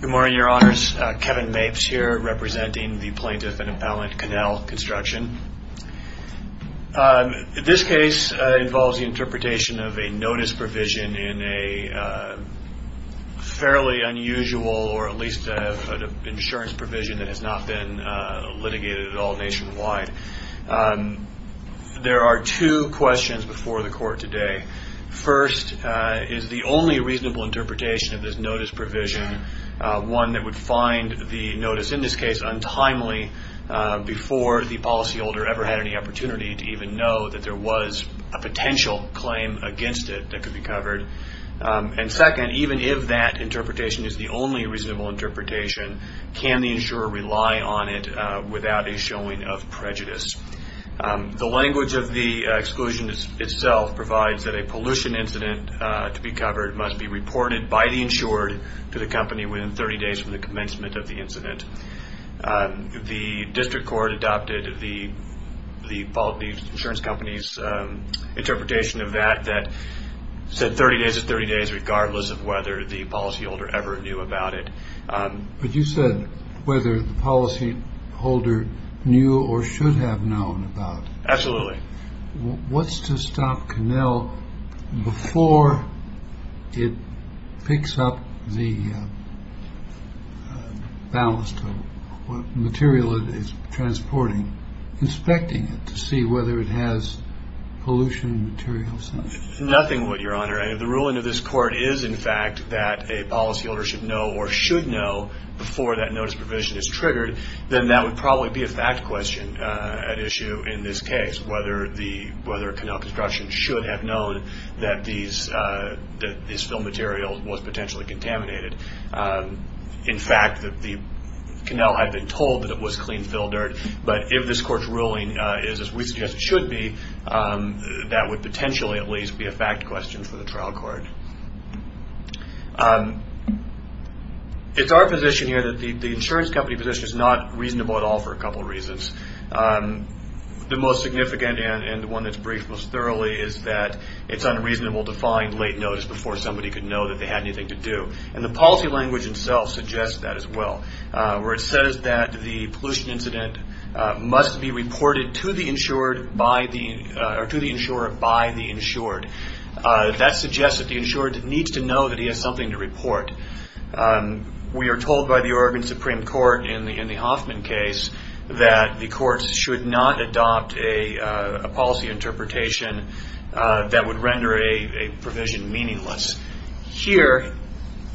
Good morning, Your Honors. Kevin Mapes here representing the Plaintiff and Appellant Konell Construction. This case involves the interpretation of a notice provision in a fairly unusual, or at least an insurance provision that has not been litigated at all nationwide. There are two questions before the Court today. First, is the only reasonable interpretation of this notice provision one that would find the notice in this case untimely before the policyholder ever had any opportunity to even know that there was a potential claim against it that could be covered? And second, even if that interpretation is the only reasonable interpretation, can the insurer rely on it without a showing of prejudice? The language of the exclusion itself provides that a pollution incident to be covered must be reported by the insured to the company within 30 days from the commencement of the incident. The District Court adopted the insurance company's interpretation of that that said 30 days is 30 days regardless of whether the policyholder ever knew about it. But you said whether the policyholder knew or should have known about it. Absolutely. What's to stop Konell before it picks up the balance of what material it is transporting, inspecting it to see whether it has pollution materials in it? Nothing, Your Honor. If the ruling of this Court is, in fact, that a policyholder should know or should know before that notice provision is triggered, then that would probably be a fact question at issue in this case, whether Konell Construction should have known that this fill material was potentially contaminated. In fact, Konell had been told that it was clean fill dirt, but if this Court's ruling is as we suggest it should be, that would potentially at least be a fact question for the trial court. It's our position here that the insurance company position is not reasonable at all for a couple of reasons. The most significant and one that's briefed most thoroughly is that it's unreasonable to find late notice before somebody could know that they had anything to do. The policy language itself suggests that as well, where it says that the pollution incident must be reported to the insurer by the insured. That suggests that the insured needs to know that he has something to report. We are told by the Oregon Supreme Court in the Hoffman case that the courts should not adopt a policy interpretation that would render a provision meaningless. Here,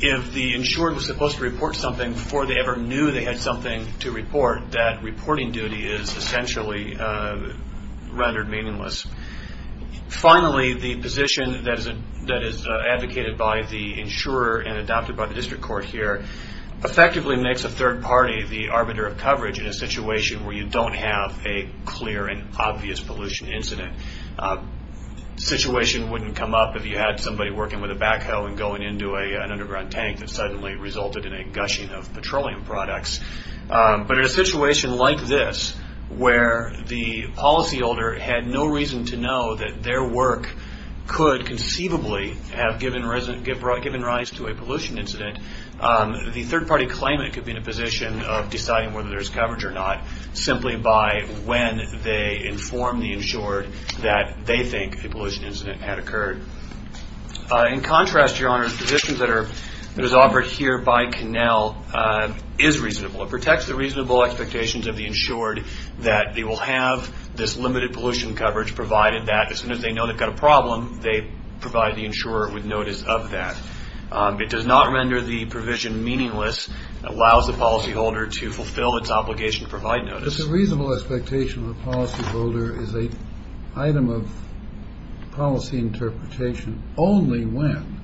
if the insured was supposed to report something before they ever knew they had something to report, that reporting duty is essentially rendered meaningless. Finally, the position that is advocated by the insurer and adopted by the district court here effectively makes a third party the arbiter of coverage in a situation where you don't have a clear and obvious pollution incident. The situation wouldn't come up if you had somebody working with a backhoe and going into an underground tank that suddenly resulted in a gushing of petroleum products. In a situation like this, where the policyholder had no reason to know that their work could conceivably have given rise to a pollution incident, the third party claimant could be in a position of deciding whether there is coverage or not simply by when they inform the insured that they think a pollution incident had occurred. In contrast, the position that is offered here by Connell is reasonable. It protects the reasonable expectations of the insured that they will have this limited pollution coverage provided that as soon as they know they've got a problem, they provide the insurer with notice of that. It does not render the provision meaningless. It allows the policyholder to fulfill its obligation to provide notice. But the reasonable expectation of the policyholder is an item of policy interpretation only when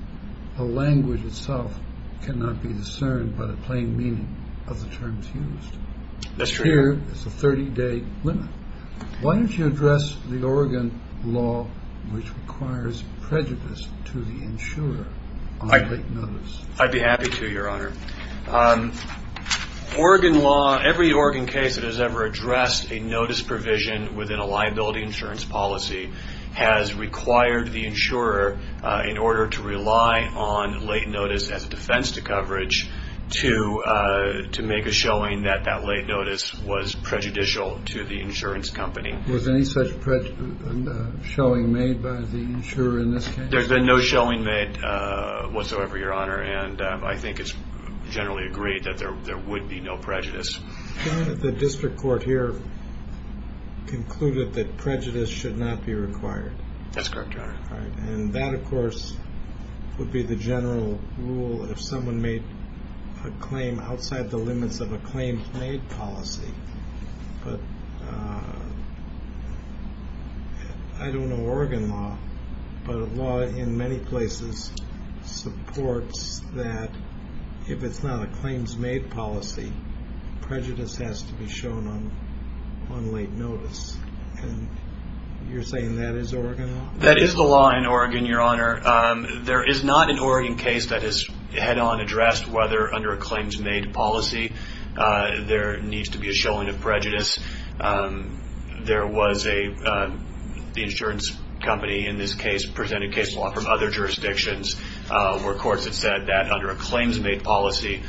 the language itself cannot be discerned by the plain meaning of the terms used. That's true. Here is the 30-day limit. Why don't you address the Oregon law which requires prejudice to the insurer on late notice? I'd be happy to, Your Honor. Every Oregon case that has ever addressed a notice provision within a liability insurance policy has required the insurer in order to rely on late notice as a defense to coverage to make a showing that that late notice was prejudicial to the insurance company. Was any such showing made by the insurer in this case? There's been no showing made whatsoever, Your Honor, and I think it's generally agreed that there would be no prejudice. The District Court here concluded that prejudice should not be required. That's correct, Your Honor. That, of course, would be the general rule if someone made a claim outside the limits of a claims-made policy. I don't know Oregon law, but law in many places supports that if it's not a claims-made policy, prejudice has to be shown on late notice. You're saying that is Oregon law? That is the law in Oregon, Your Honor. There is not an Oregon case that has head-on addressed whether under a claims-made policy there needs to be a showing of prejudice. The insurance company in this case presented case law from other jurisdictions where courts had said that under a claims-made policy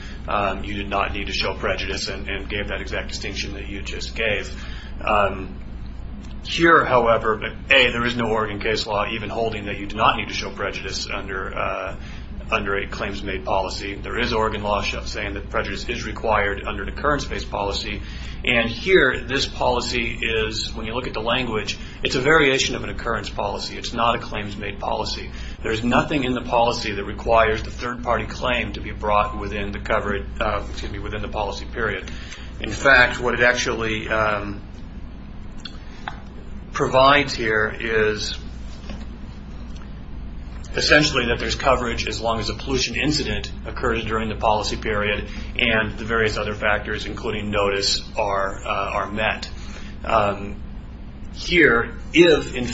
you did not need to show prejudice and gave that exact distinction that you just gave. Here, however, A, there is no Oregon case law even holding that you do not need to show prejudice under a claims-made policy. There is Oregon law saying that prejudice is required under an occurrence-based policy. Here, this policy is, when you look at the language, it's a variation of an occurrence policy. It's not a claims-made policy. There's nothing in the policy that requires the third-party claim to be brought within the policy period. In fact, what it actually provides here is essentially that there's coverage as long as a pollution incident occurs during the policy period and the various other factors, including notice, are met. Here, assuming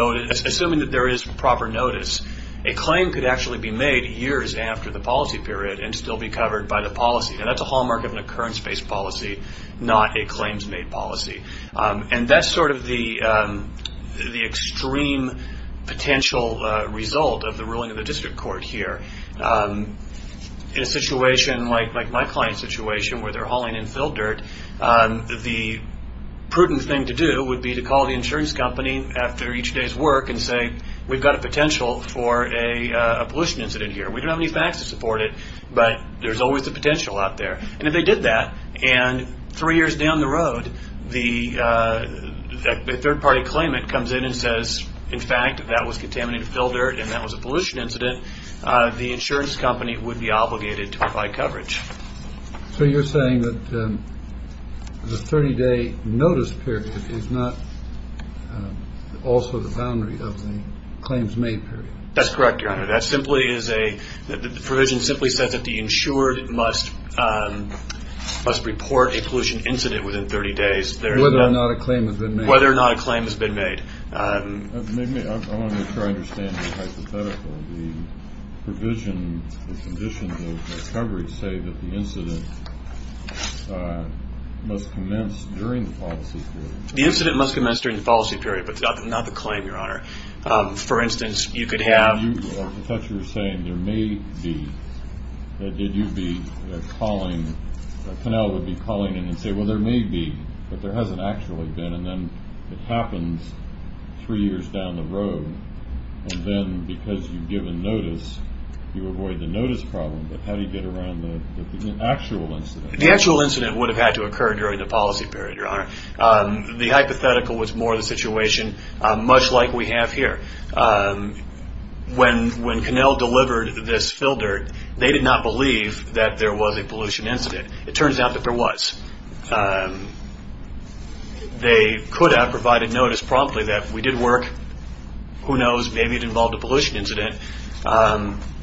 that there is proper notice, a claim could actually be made years after the policy period and still be covered by the policy. That's a hallmark of an occurrence-based policy, not a claims-made policy. That's sort of the extreme potential result of the ruling of the district court here. In a situation like my client's situation where they're hauling infill dirt, the prudent thing to do would be to call the insurance company after each day's work and say, we've got a potential for a pollution incident here. We don't have any facts to support it, but there's always the potential out there. And if they did that, and three years down the road, a third-party claimant comes in and says, in fact, that was contaminated infill dirt and that was a pollution incident, the insurance company would be obligated to apply coverage. So you're saying that the 30-day notice period is not also the boundary of the claims-made period? That's correct, Your Honor. That simply is a provision simply says that the insured must report a pollution incident within 30 days. Whether or not a claim has been made. Whether or not a claim has been made. I want to make sure I understand the hypothetical. The provision, the conditions of the coverage say that the incident must commence during the policy period. The incident must commence during the policy period, but not the claim, Your Honor. For instance, you could have- Did you be calling-Canel would be calling in and say, well, there may be, but there hasn't actually been. And then it happens three years down the road, and then because you've given notice, you avoid the notice problem. But how do you get around the actual incident? The actual incident would have had to occur during the policy period, Your Honor. The hypothetical was more the situation, much like we have here. When Canel delivered this fill dirt, they did not believe that there was a pollution incident. It turns out that there was. They could have provided notice promptly that we did work. Who knows, maybe it involved a pollution incident.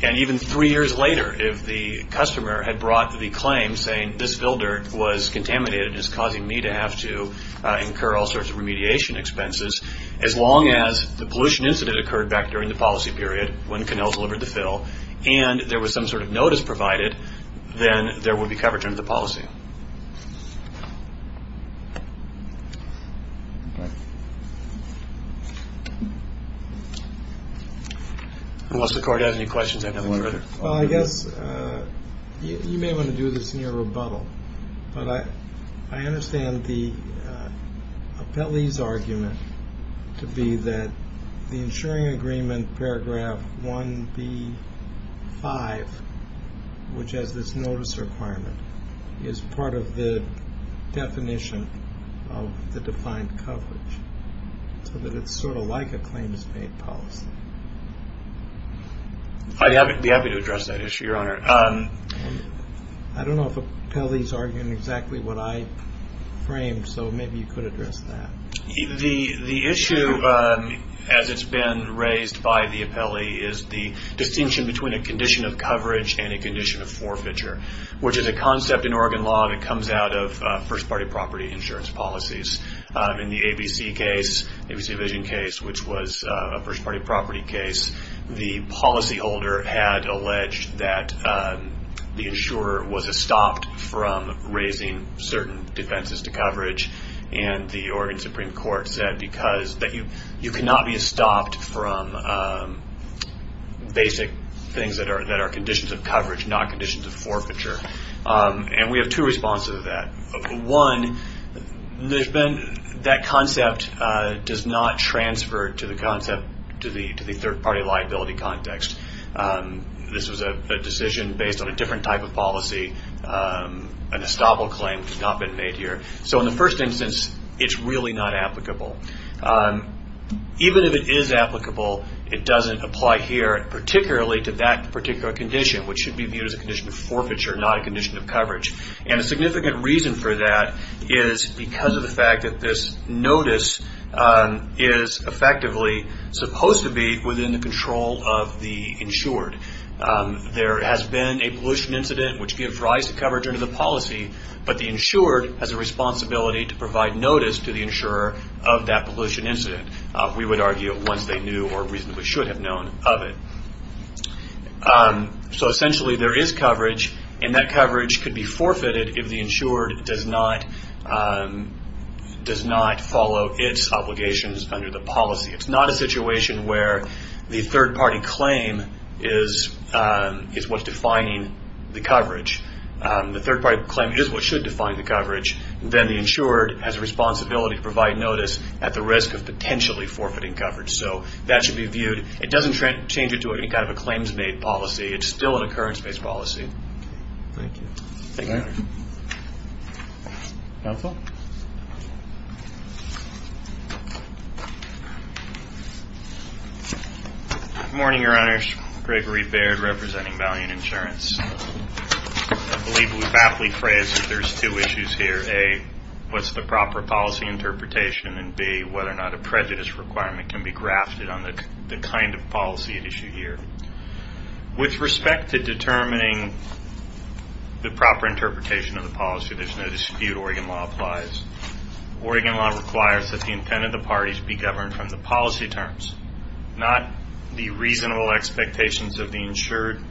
And even three years later, if the customer had brought the claim saying this fill dirt was contaminated and is causing me to have to incur all sorts of remediation expenses, as long as the pollution incident occurred back during the policy period when Canel delivered the fill and there was some sort of notice provided, then there would be coverage under the policy. Unless the Court has any questions, I have no further. Well, I guess you may want to do this in your rebuttal. But I understand the appellee's argument to be that the insuring agreement paragraph 1B5, which has this notice requirement, is part of the definition of the defined coverage. So that it's sort of like a claims-paid policy. I'd be happy to address that issue, Your Honor. I don't know if the appellee's arguing exactly what I framed, so maybe you could address that. The issue, as it's been raised by the appellee, is the distinction between a condition of coverage and a condition of forfeiture, which is a concept in Oregon law that comes out of first-party property insurance policies. In the ABC case, ABC Division case, which was a first-party property case, the policyholder had alleged that the insurer was estopped from raising certain defenses to coverage. And the Oregon Supreme Court said that you cannot be estopped from basic things that are conditions of coverage, not conditions of forfeiture. One, that concept does not transfer to the third-party liability context. This was a decision based on a different type of policy. An estoppel claim has not been made here. So in the first instance, it's really not applicable. Even if it is applicable, it doesn't apply here, particularly to that particular condition, which should be viewed as a condition of forfeiture, not a condition of coverage. And a significant reason for that is because of the fact that this notice is effectively supposed to be within the control of the insured. There has been a pollution incident which gave rise to coverage under the policy, but the insured has a responsibility to provide notice to the insurer of that pollution incident, we would argue, once they knew or reasonably should have known of it. So essentially there is coverage, and that coverage could be forfeited if the insured does not follow its obligations under the policy. It's not a situation where the third-party claim is what's defining the coverage. The third-party claim is what should define the coverage. Then the insured has a responsibility to provide notice at the risk of potentially forfeiting coverage. So that should be viewed. It doesn't change it to any kind of a claims-made policy. It's still an occurrence-based policy. Thank you. Counsel? Good morning, Your Honors. Gregory Baird, representing Valiant Insurance. I believe we've aptly phrased that there's two issues here. A, what's the proper policy interpretation, and B, whether or not a prejudice requirement can be grafted on the kind of policy at issue here. With respect to determining the proper interpretation of the policy, there's no dispute. Oregon law applies. Oregon law requires that the intent of the parties be governed from the policy terms, not the reasonable expectations of the insured,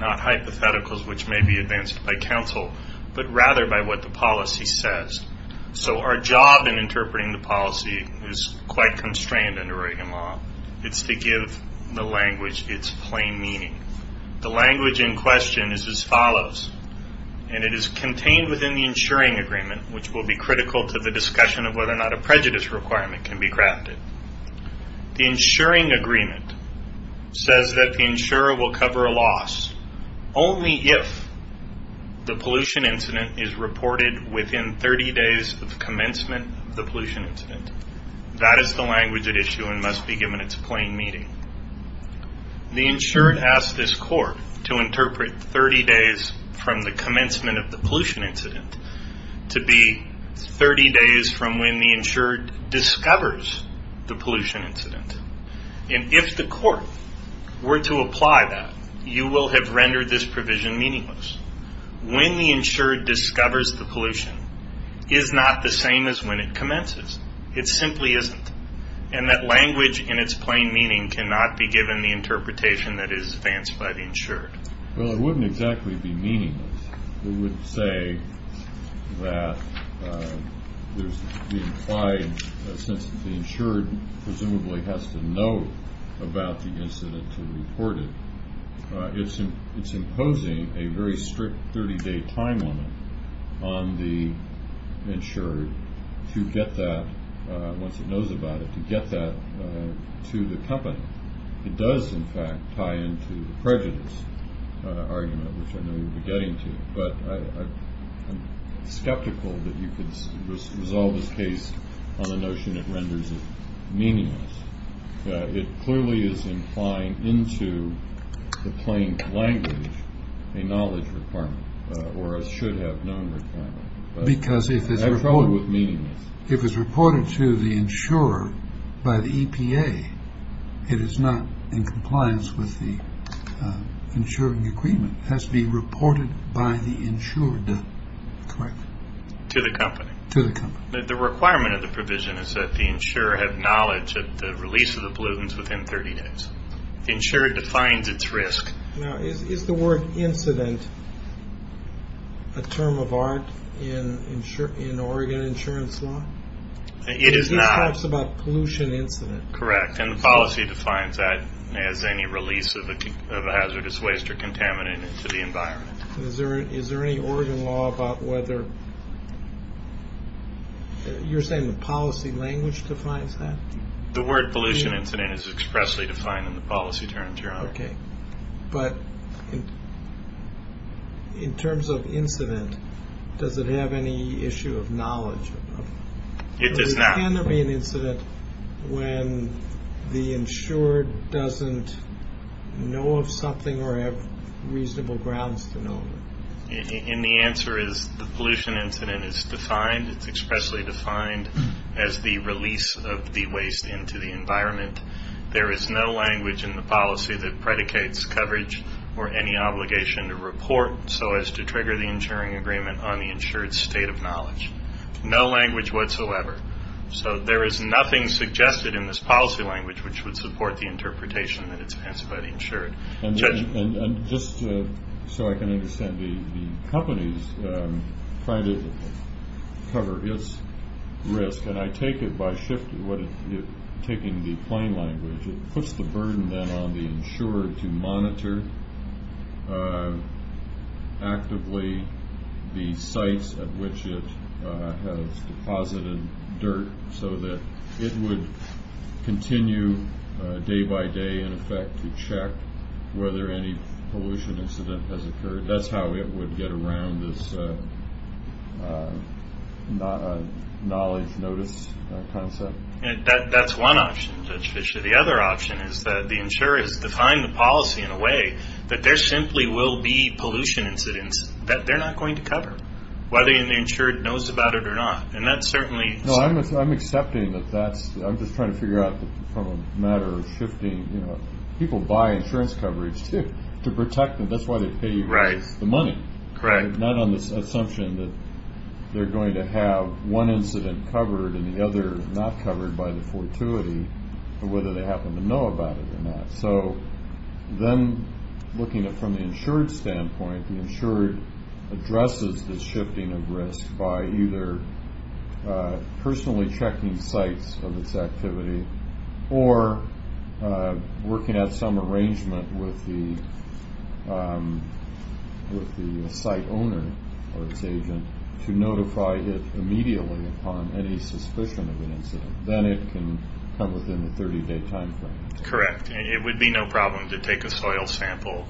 not hypotheticals which may be advanced by counsel, but rather by what the policy says. So our job in interpreting the policy is quite constrained under Oregon law. It's to give the language its plain meaning. The language in question is as follows, and it is contained within the insuring agreement, which will be critical to the discussion of whether or not a prejudice requirement can be grafted. The insuring agreement says that the insurer will cover a loss only if the pollution incident is reported within 30 days of commencement of the pollution incident. That is the language at issue and must be given its plain meaning. The insured asks this court to interpret 30 days from the commencement of the pollution incident to be 30 days from when the insured discovers the pollution incident. If the court were to apply that, you will have rendered this provision meaningless. When the insured discovers the pollution is not the same as when it commences. It simply isn't. And that language in its plain meaning cannot be given the interpretation that is advanced by the insured. Well, it wouldn't exactly be meaningless. It would say that there's the implied sense that the insured presumably has to know about the incident to report it. It's imposing a very strict 30-day time limit on the insured to get that, once it knows about it, to get that to the company. It does, in fact, tie into the prejudice argument, which I know you'll be getting to. But I'm skeptical that you could resolve this case on the notion it renders it meaningless. It clearly is implying into the plain language a knowledge requirement or a should-have-known requirement. Because if it's reported to the insurer by the EPA, it is not in compliance with the insuring agreement. It has to be reported by the insured, correct? To the company. The requirement of the provision is that the insurer have knowledge of the release of the pollutants within 30 days. The insured defines its risk. Now, is the word incident a term of art in Oregon insurance law? It is not. It just talks about pollution incident. Correct, and the policy defines that as any release of a hazardous waste or contaminant into the environment. Is there any Oregon law about whether... You're saying the policy language defines that? The word pollution incident is expressly defined in the policy terms, Your Honor. Okay, but in terms of incident, does it have any issue of knowledge? It does not. Can there be an incident when the insured doesn't know of something or have reasonable grounds to know of it? And the answer is the pollution incident is defined. It's expressly defined as the release of the waste into the environment. There is no language in the policy that predicates coverage or any obligation to report so as to trigger the insuring agreement on the insured's state of knowledge. No language whatsoever. So there is nothing suggested in this policy language which would support the interpretation that it's about insured. And just so I can understand, the companies find it to cover its risk, and I take it by taking the plain language, it puts the burden then on the insured to monitor actively the sites at which it has deposited dirt so that it would continue day by day in effect to check whether any pollution incident has occurred. That's how it would get around this knowledge notice concept. And that's one option, Judge Fischer. The other option is that the insurer has defined the policy in a way that there simply will be pollution incidents that they're not going to cover, whether the insured knows about it or not. And that certainly... No, I'm accepting that that's... I'm just trying to figure out from a matter of shifting, you know, people buy insurance coverage to protect them. That's why they pay the money. Correct. Not on the assumption that they're going to have one incident covered and the other not covered by the fortuity, but whether they happen to know about it or not. So then looking at it from the insured standpoint, the insured addresses the shifting of risk by either personally checking sites of its activity or working out some arrangement with the site owner or its agent to notify it immediately upon any suspicion of an incident. Then it can come within the 30-day timeframe. Correct. It would be no problem to take a soil sample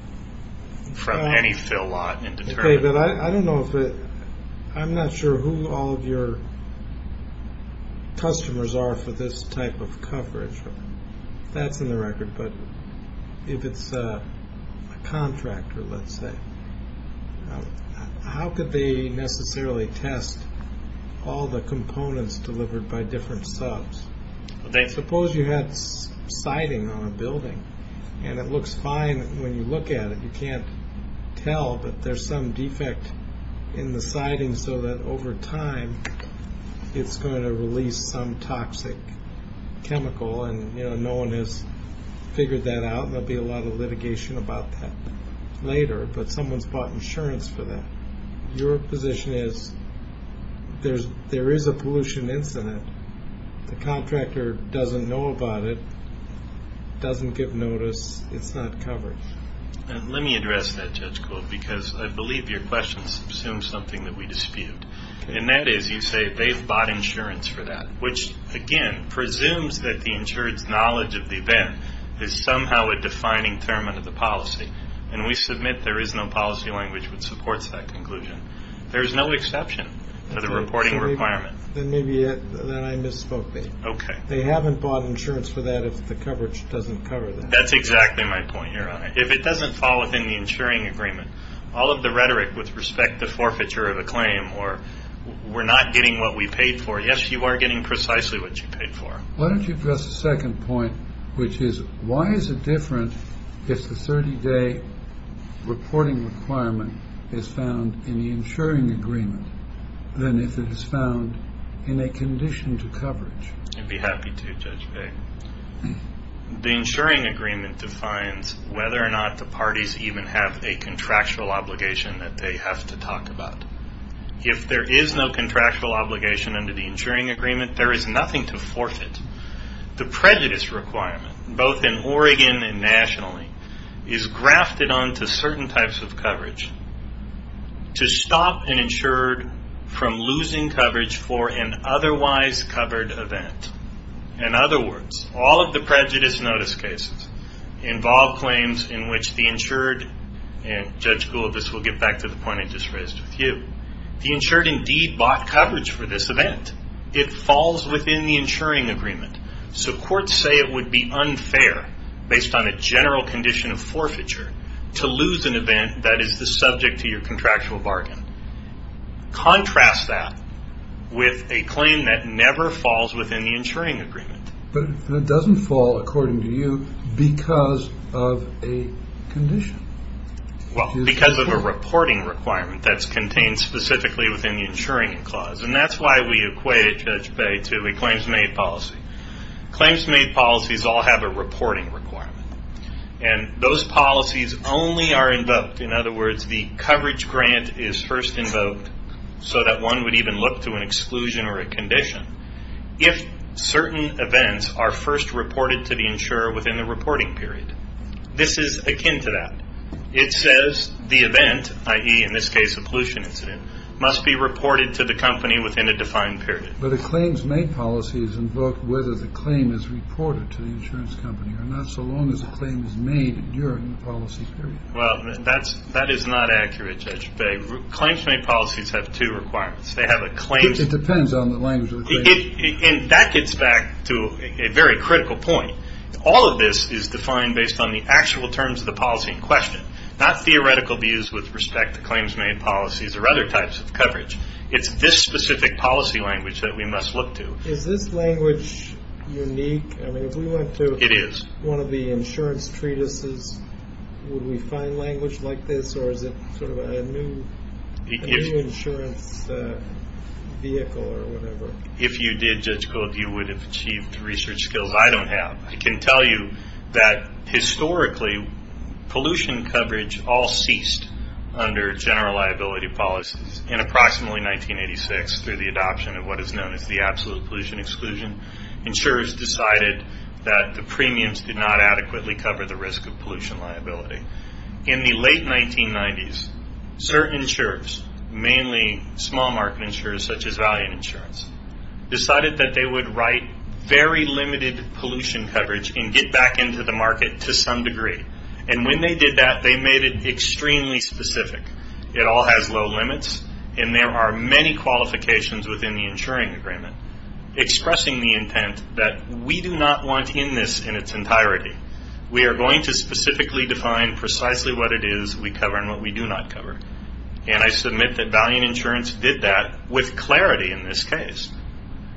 from any fill lot and determine... David, I don't know if it... I'm not sure who all of your customers are for this type of coverage. That's in the record, but if it's a contractor, let's say, how could they necessarily test all the components delivered by different subs? Suppose you had siding on a building and it looks fine when you look at it. You can't tell, but there's some defect in the siding so that over time it's going to release some toxic chemical, and no one has figured that out. There'll be a lot of litigation about that later, but someone's bought insurance for that. Your position is there is a pollution incident. The contractor doesn't know about it, doesn't give notice, it's not covered. Let me address that, Judge Gould, because I believe your question assumes something that we dispute, and that is you say they've bought insurance for that, which, again, presumes that the insured's knowledge of the event is somehow a defining term of the policy, and we submit there is no policy language which supports that conclusion. There is no exception to the reporting requirement. Then maybe I misspoke there. Okay. They haven't bought insurance for that if the coverage doesn't cover that. That's exactly my point, Your Honor. If it doesn't fall within the insuring agreement, all of the rhetoric with respect to forfeiture of a claim or we're not getting what we paid for, yes, you are getting precisely what you paid for. Why don't you address the second point, which is why is it different if the 30-day reporting requirement is found in the insuring agreement than if it is found in a condition to coverage? I'd be happy to, Judge Bay. The insuring agreement defines whether or not the parties even have a contractual obligation that they have to talk about. If there is no contractual obligation under the insuring agreement, there is nothing to forfeit. The prejudice requirement, both in Oregon and nationally, is grafted onto certain types of coverage to stop an insured from losing coverage for an otherwise covered event. In other words, all of the prejudice notice cases involve claims in which the insured and Judge Gould, this will get back to the point I just raised with you. The insured indeed bought coverage for this event. It falls within the insuring agreement. Courts say it would be unfair, based on a general condition of forfeiture, to lose an event that is the subject to your contractual bargain. Contrast that with a claim that never falls within the insuring agreement. But it doesn't fall, according to you, because of a condition. Well, because of a reporting requirement that's contained specifically within the insuring clause, and that's why we equate it, Judge Bay, to a claims-made policy. Claims-made policies all have a reporting requirement, and those policies only are invoked. In other words, the coverage grant is first invoked so that one would even look to an exclusion or a condition if certain events are first reported to the insurer within the reporting period. This is akin to that. It says the event, i.e., in this case, a pollution incident, must be reported to the company within a defined period. But a claims-made policy is invoked whether the claim is reported to the insurance company or not so long as the claim is made during the policy period. Well, that is not accurate, Judge Bay. Claims-made policies have two requirements. They have a claims... It depends on the language of the claim. And that gets back to a very critical point. All of this is defined based on the actual terms of the policy in question, not theoretical views with respect to claims-made policies or other types of coverage. It's this specific policy language that we must look to. Is this language unique? I mean, if we went to... It is. One of the insurance treatises, would we find language like this, or is it sort of a new insurance vehicle or whatever? If you did, Judge Gould, you would have achieved the research skills I don't have. I can tell you that, historically, pollution coverage all ceased under general liability policies. In approximately 1986, through the adoption of what is known as the absolute pollution exclusion, insurers decided that the premiums did not adequately cover the risk of pollution liability. In the late 1990s, certain insurers, mainly small market insurers such as Valiant Insurance, decided that they would write very limited pollution coverage and get back into the market to some degree. And when they did that, they made it extremely specific. It all has low limits, and there are many qualifications within the insuring agreement. Expressing the intent that we do not want in this in its entirety. We are going to specifically define precisely what it is we cover and what we do not cover. And I submit that Valiant Insurance did that with clarity in this case.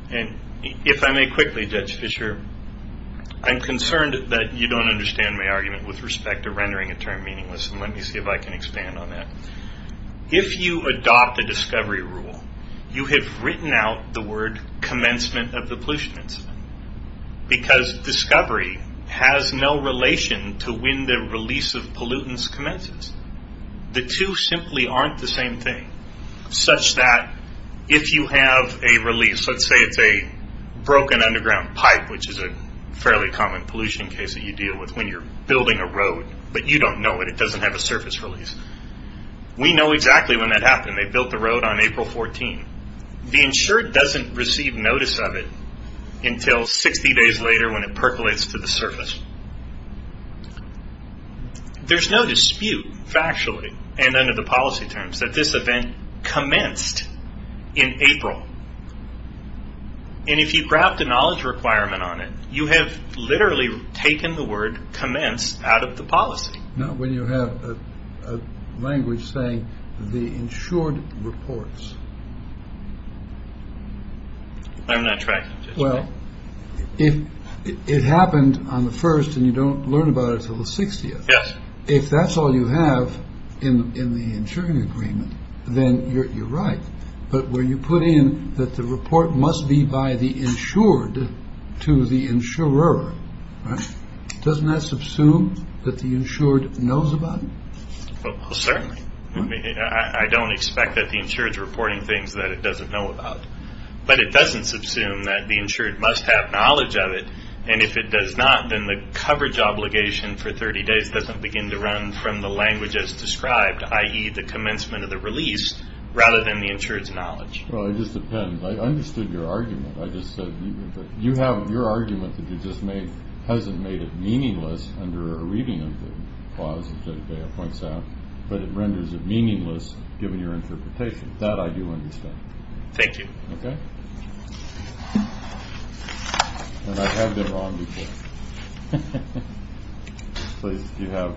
And if I may quickly, Judge Fischer, I'm concerned that you don't understand my argument with respect to rendering a term meaningless, and let me see if I can expand on that. If you adopt a discovery rule, you have written out the word commencement of the pollution incident. Because discovery has no relation to when the release of pollutants commences. The two simply aren't the same thing. Such that if you have a release, let's say it's a broken underground pipe, which is a fairly common pollution case that you deal with when you're building a road, but you don't know it. It doesn't have a surface release. We know exactly when that happened. They built the road on April 14. The insured doesn't receive notice of it until 60 days later when it percolates to the surface. There's no dispute factually and under the policy terms that this event commenced in April. And if you grab the knowledge requirement on it, you have literally taken the word commence out of the policy. Not when you have a language saying the insured reports. I'm not tracking. Well, if it happened on the first and you don't learn about it until the 60th. If that's all you have in the insuring agreement, then you're right. But where you put in that the report must be by the insured to the insurer. Doesn't that subsume that the insured knows about it? Well, certainly. I don't expect that the insured reporting things that it doesn't know about. But it doesn't subsume that the insured must have knowledge of it. And if it does not, then the coverage obligation for 30 days doesn't begin to run from the language as described, i.e. the commencement of the release rather than the insurance knowledge. Well, it just depends. I understood your argument. I just said you have your argument that you just made. Hasn't made it meaningless under a reading of the clause points out. But it renders it meaningless. Given your interpretation that I do understand. Thank you. OK. I have been wrong. Please. You have.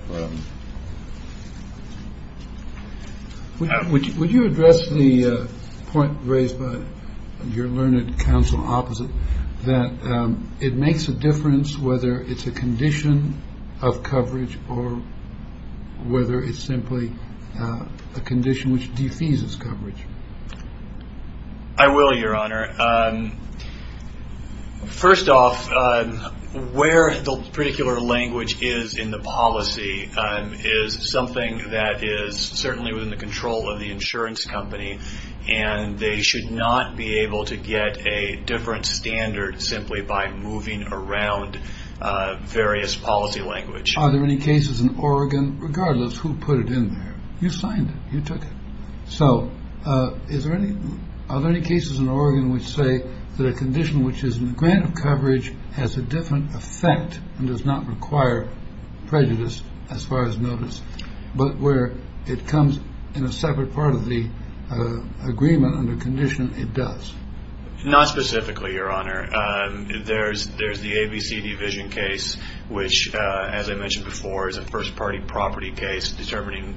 Would you address the point raised by your learned counsel opposite that it makes a difference, whether it's a condition of coverage or whether it's simply a condition which defies its coverage. I will, Your Honor. First off, where the particular language is in the policy is something that is certainly within the control of the insurance company. And they should not be able to get a different standard simply by moving around various policy language. Are there any cases in Oregon regardless who put it in there? You signed it. You took it. So is there any other cases in Oregon which say that a condition which is in the grant of coverage has a different effect and does not require prejudice as far as notice, but where it comes in a separate part of the agreement and the condition it does. Not specifically, Your Honor. There's there's the ABC division case, which, as I mentioned before, is a first party property case determining,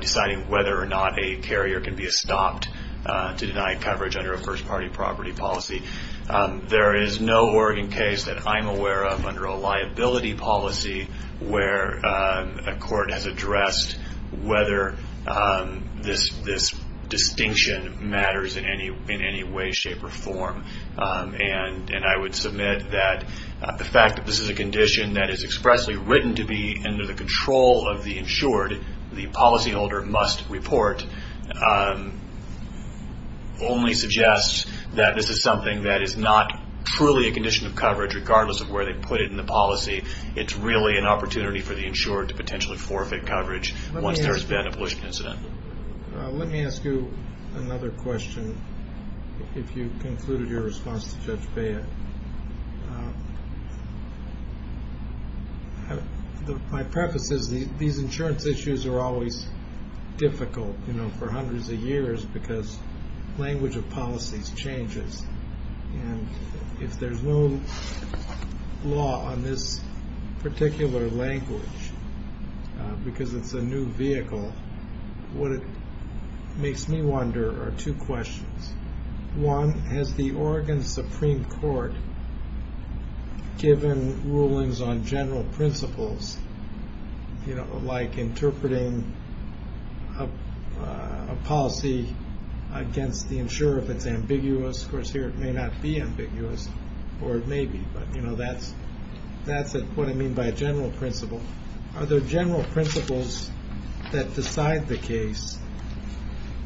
deciding whether or not a carrier can be stopped to deny coverage under a first party property policy. There is no Oregon case that I'm aware of under a liability policy where a court has addressed whether this this distinction matters in any way, shape or form. And I would submit that the fact that this is a condition that is expressly written to be under the control of the insured, the policyholder must report, only suggests that this is something that is not truly a condition of coverage, regardless of where they put it in the policy. It's really an opportunity for the insured to potentially forfeit coverage once there's been a pollution incident. Let me ask you another question. If you concluded your response to Judge Beyer. My preface is these insurance issues are always difficult, you know, for hundreds of years because language of policies changes. And if there's no law on this particular language, because it's a new vehicle, what it makes me wonder are two questions. One, has the Oregon Supreme Court given rulings on general principles, you know, like interpreting a policy against the insurer if it's ambiguous? Of course, here it may not be ambiguous or it may be. But, you know, that's that's what I mean by a general principle. Are there general principles that decide the case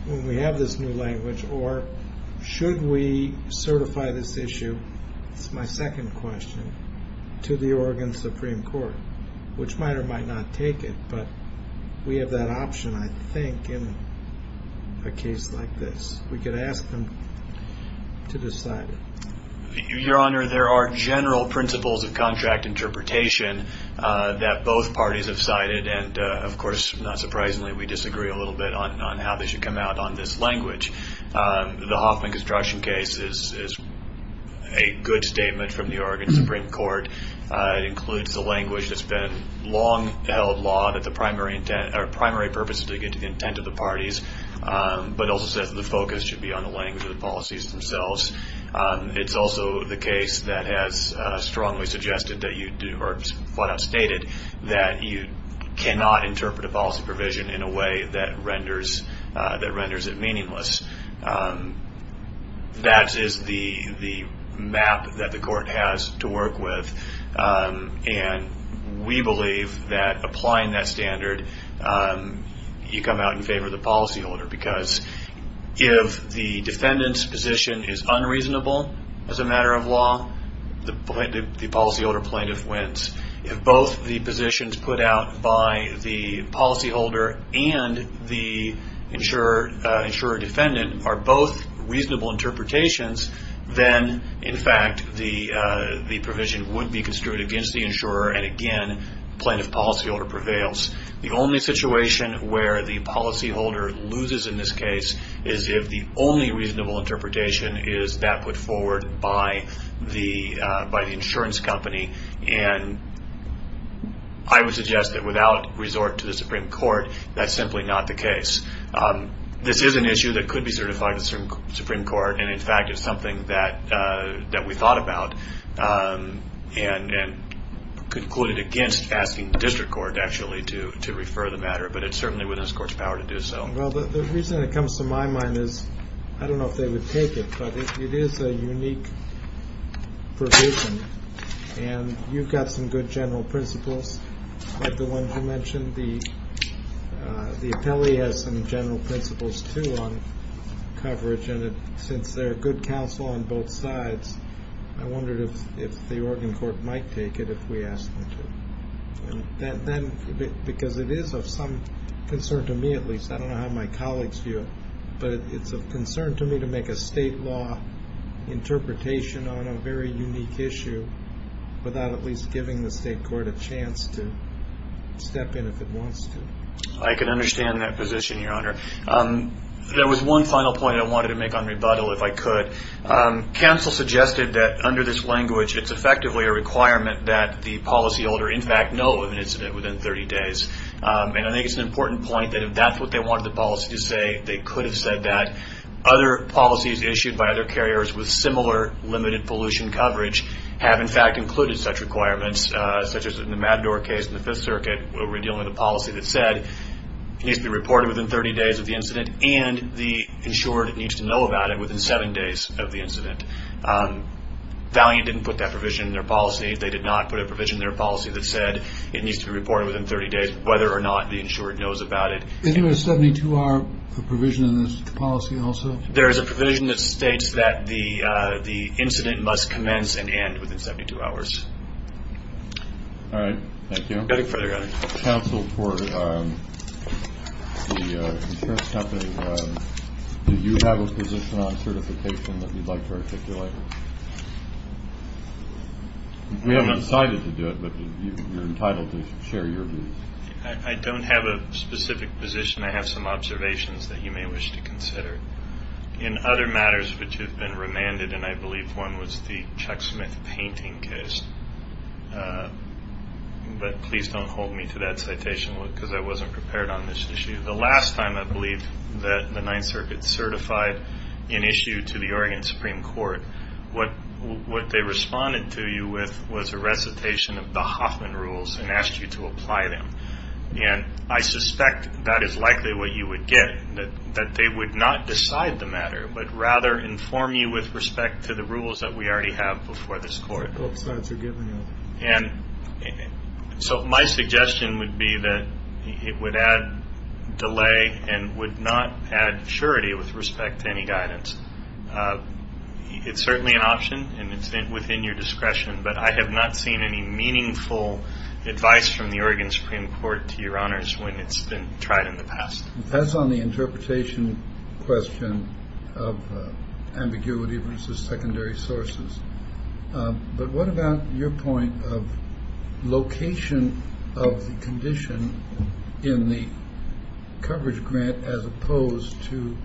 when we have this new language or should we certify this issue? It's my second question to the Oregon Supreme Court, which might or might not take it. But we have that option, I think, in a case like this, we could ask them to decide. Your Honor, there are general principles of contract interpretation that both parties have cited. And, of course, not surprisingly, we disagree a little bit on how they should come out on this language. The Hoffman construction case is a good statement from the Oregon Supreme Court. It includes the language that's been long held law that the primary intent or primary purpose is to get to the intent of the parties, but also says that the focus should be on the language of the policies themselves. It's also the case that has strongly suggested that you do or what I've stated, that you cannot interpret a policy provision in a way that renders that renders it meaningless. That is the map that the court has to work with. And we believe that applying that standard, you come out in favor of the policyholder, because if the defendant's position is unreasonable as a matter of law, the policyholder plaintiff wins. If both the positions put out by the policyholder and the insurer defendant are both reasonable interpretations, then, in fact, the provision would be construed against the insurer. And, again, plaintiff policyholder prevails. The only situation where the policyholder loses in this case is if the only reasonable interpretation is that put forward by the insurance company. And I would suggest that without resort to the Supreme Court, that's simply not the case. This is an issue that could be certified to the Supreme Court. And, in fact, it's something that we thought about and concluded against asking the district court actually to refer the matter. But it's certainly within this court's power to do so. Well, the reason it comes to my mind is I don't know if they would take it, but it is a unique provision. And you've got some good general principles, like the one you mentioned. The appellee has some general principles, too, on coverage. And since there are good counsel on both sides, I wondered if the Oregon court might take it if we asked them to. Because it is of some concern to me, at least. I don't know how my colleagues view it. But it's of concern to me to make a state law interpretation on a very unique issue without at least giving the state court a chance to step in if it wants to. I can understand that position, Your Honor. There was one final point I wanted to make on rebuttal, if I could. Counsel suggested that under this language, it's effectively a requirement that the policyholder, in fact, know of an incident within 30 days. And I think it's an important point that if that's what they wanted the policy to say, they could have said that. Other policies issued by other carriers with similar limited pollution coverage have, in fact, included such requirements, such as in the Matador case in the Fifth Circuit where we're dealing with a policy that said it needs to be reported within 30 days of the incident and the insured needs to know about it within seven days of the incident. Valiant didn't put that provision in their policy. They did not put a provision in their policy that said it needs to be reported within 30 days, whether or not the insured knows about it. Isn't there a 72-hour provision in this policy also? There is a provision that states that the incident must commence and end within 72 hours. All right. Thank you. Further questions? Counsel for the insurance company, do you have a position on certification that you'd like to articulate? We haven't decided to do it, but you're entitled to share your views. I don't have a specific position. I have some observations that you may wish to consider. In other matters which have been remanded, and I believe one was the Chuck Smith painting case, but please don't hold me to that citation because I wasn't prepared on this issue. The last time I believe that the Ninth Circuit certified an issue to the Oregon Supreme Court, what they responded to you with was a recitation of the Hoffman rules and asked you to apply them. And I suspect that is likely what you would get, that they would not decide the matter, but rather inform you with respect to the rules that we already have before this court. And so my suggestion would be that it would add delay and would not add surety with respect to any guidance. It's certainly an option and it's within your discretion, but I have not seen any meaningful advice from the Oregon Supreme Court to your honors when it's been tried in the past. It depends on the interpretation question of ambiguity versus secondary sources. But what about your point of location of the condition in the coverage grant as opposed to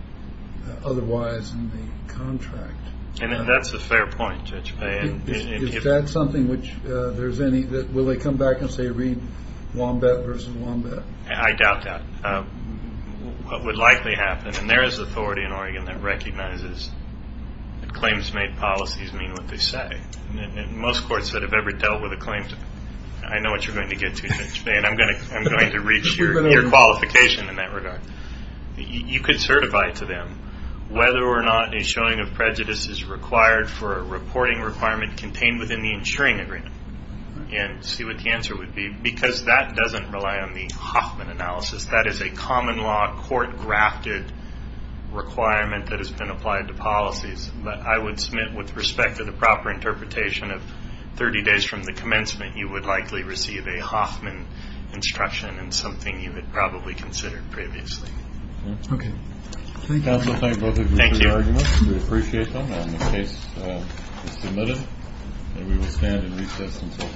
otherwise in the contract? And that's a fair point, Judge Payne. Is that something which there's any, will they come back and say read Wombat versus Wombat? I doubt that. What would likely happen, and there is authority in Oregon that recognizes that claims made policies mean what they say. And most courts that have ever dealt with a claim, I know what you're going to get to, Judge Payne. I'm going to reach your qualification in that regard. You could certify to them whether or not a showing of prejudice is required for a reporting requirement contained within the insuring agreement and see what the answer would be because that doesn't rely on the Hoffman analysis. That is a common law court-grafted requirement that has been applied to policies. But I would submit with respect to the proper interpretation of 30 days from the commencement, you would likely receive a Hoffman instruction and something you had probably considered previously. Okay. Counsel, thank both of you for your arguments. We appreciate them. The case is submitted. And we will stand and recess until tomorrow.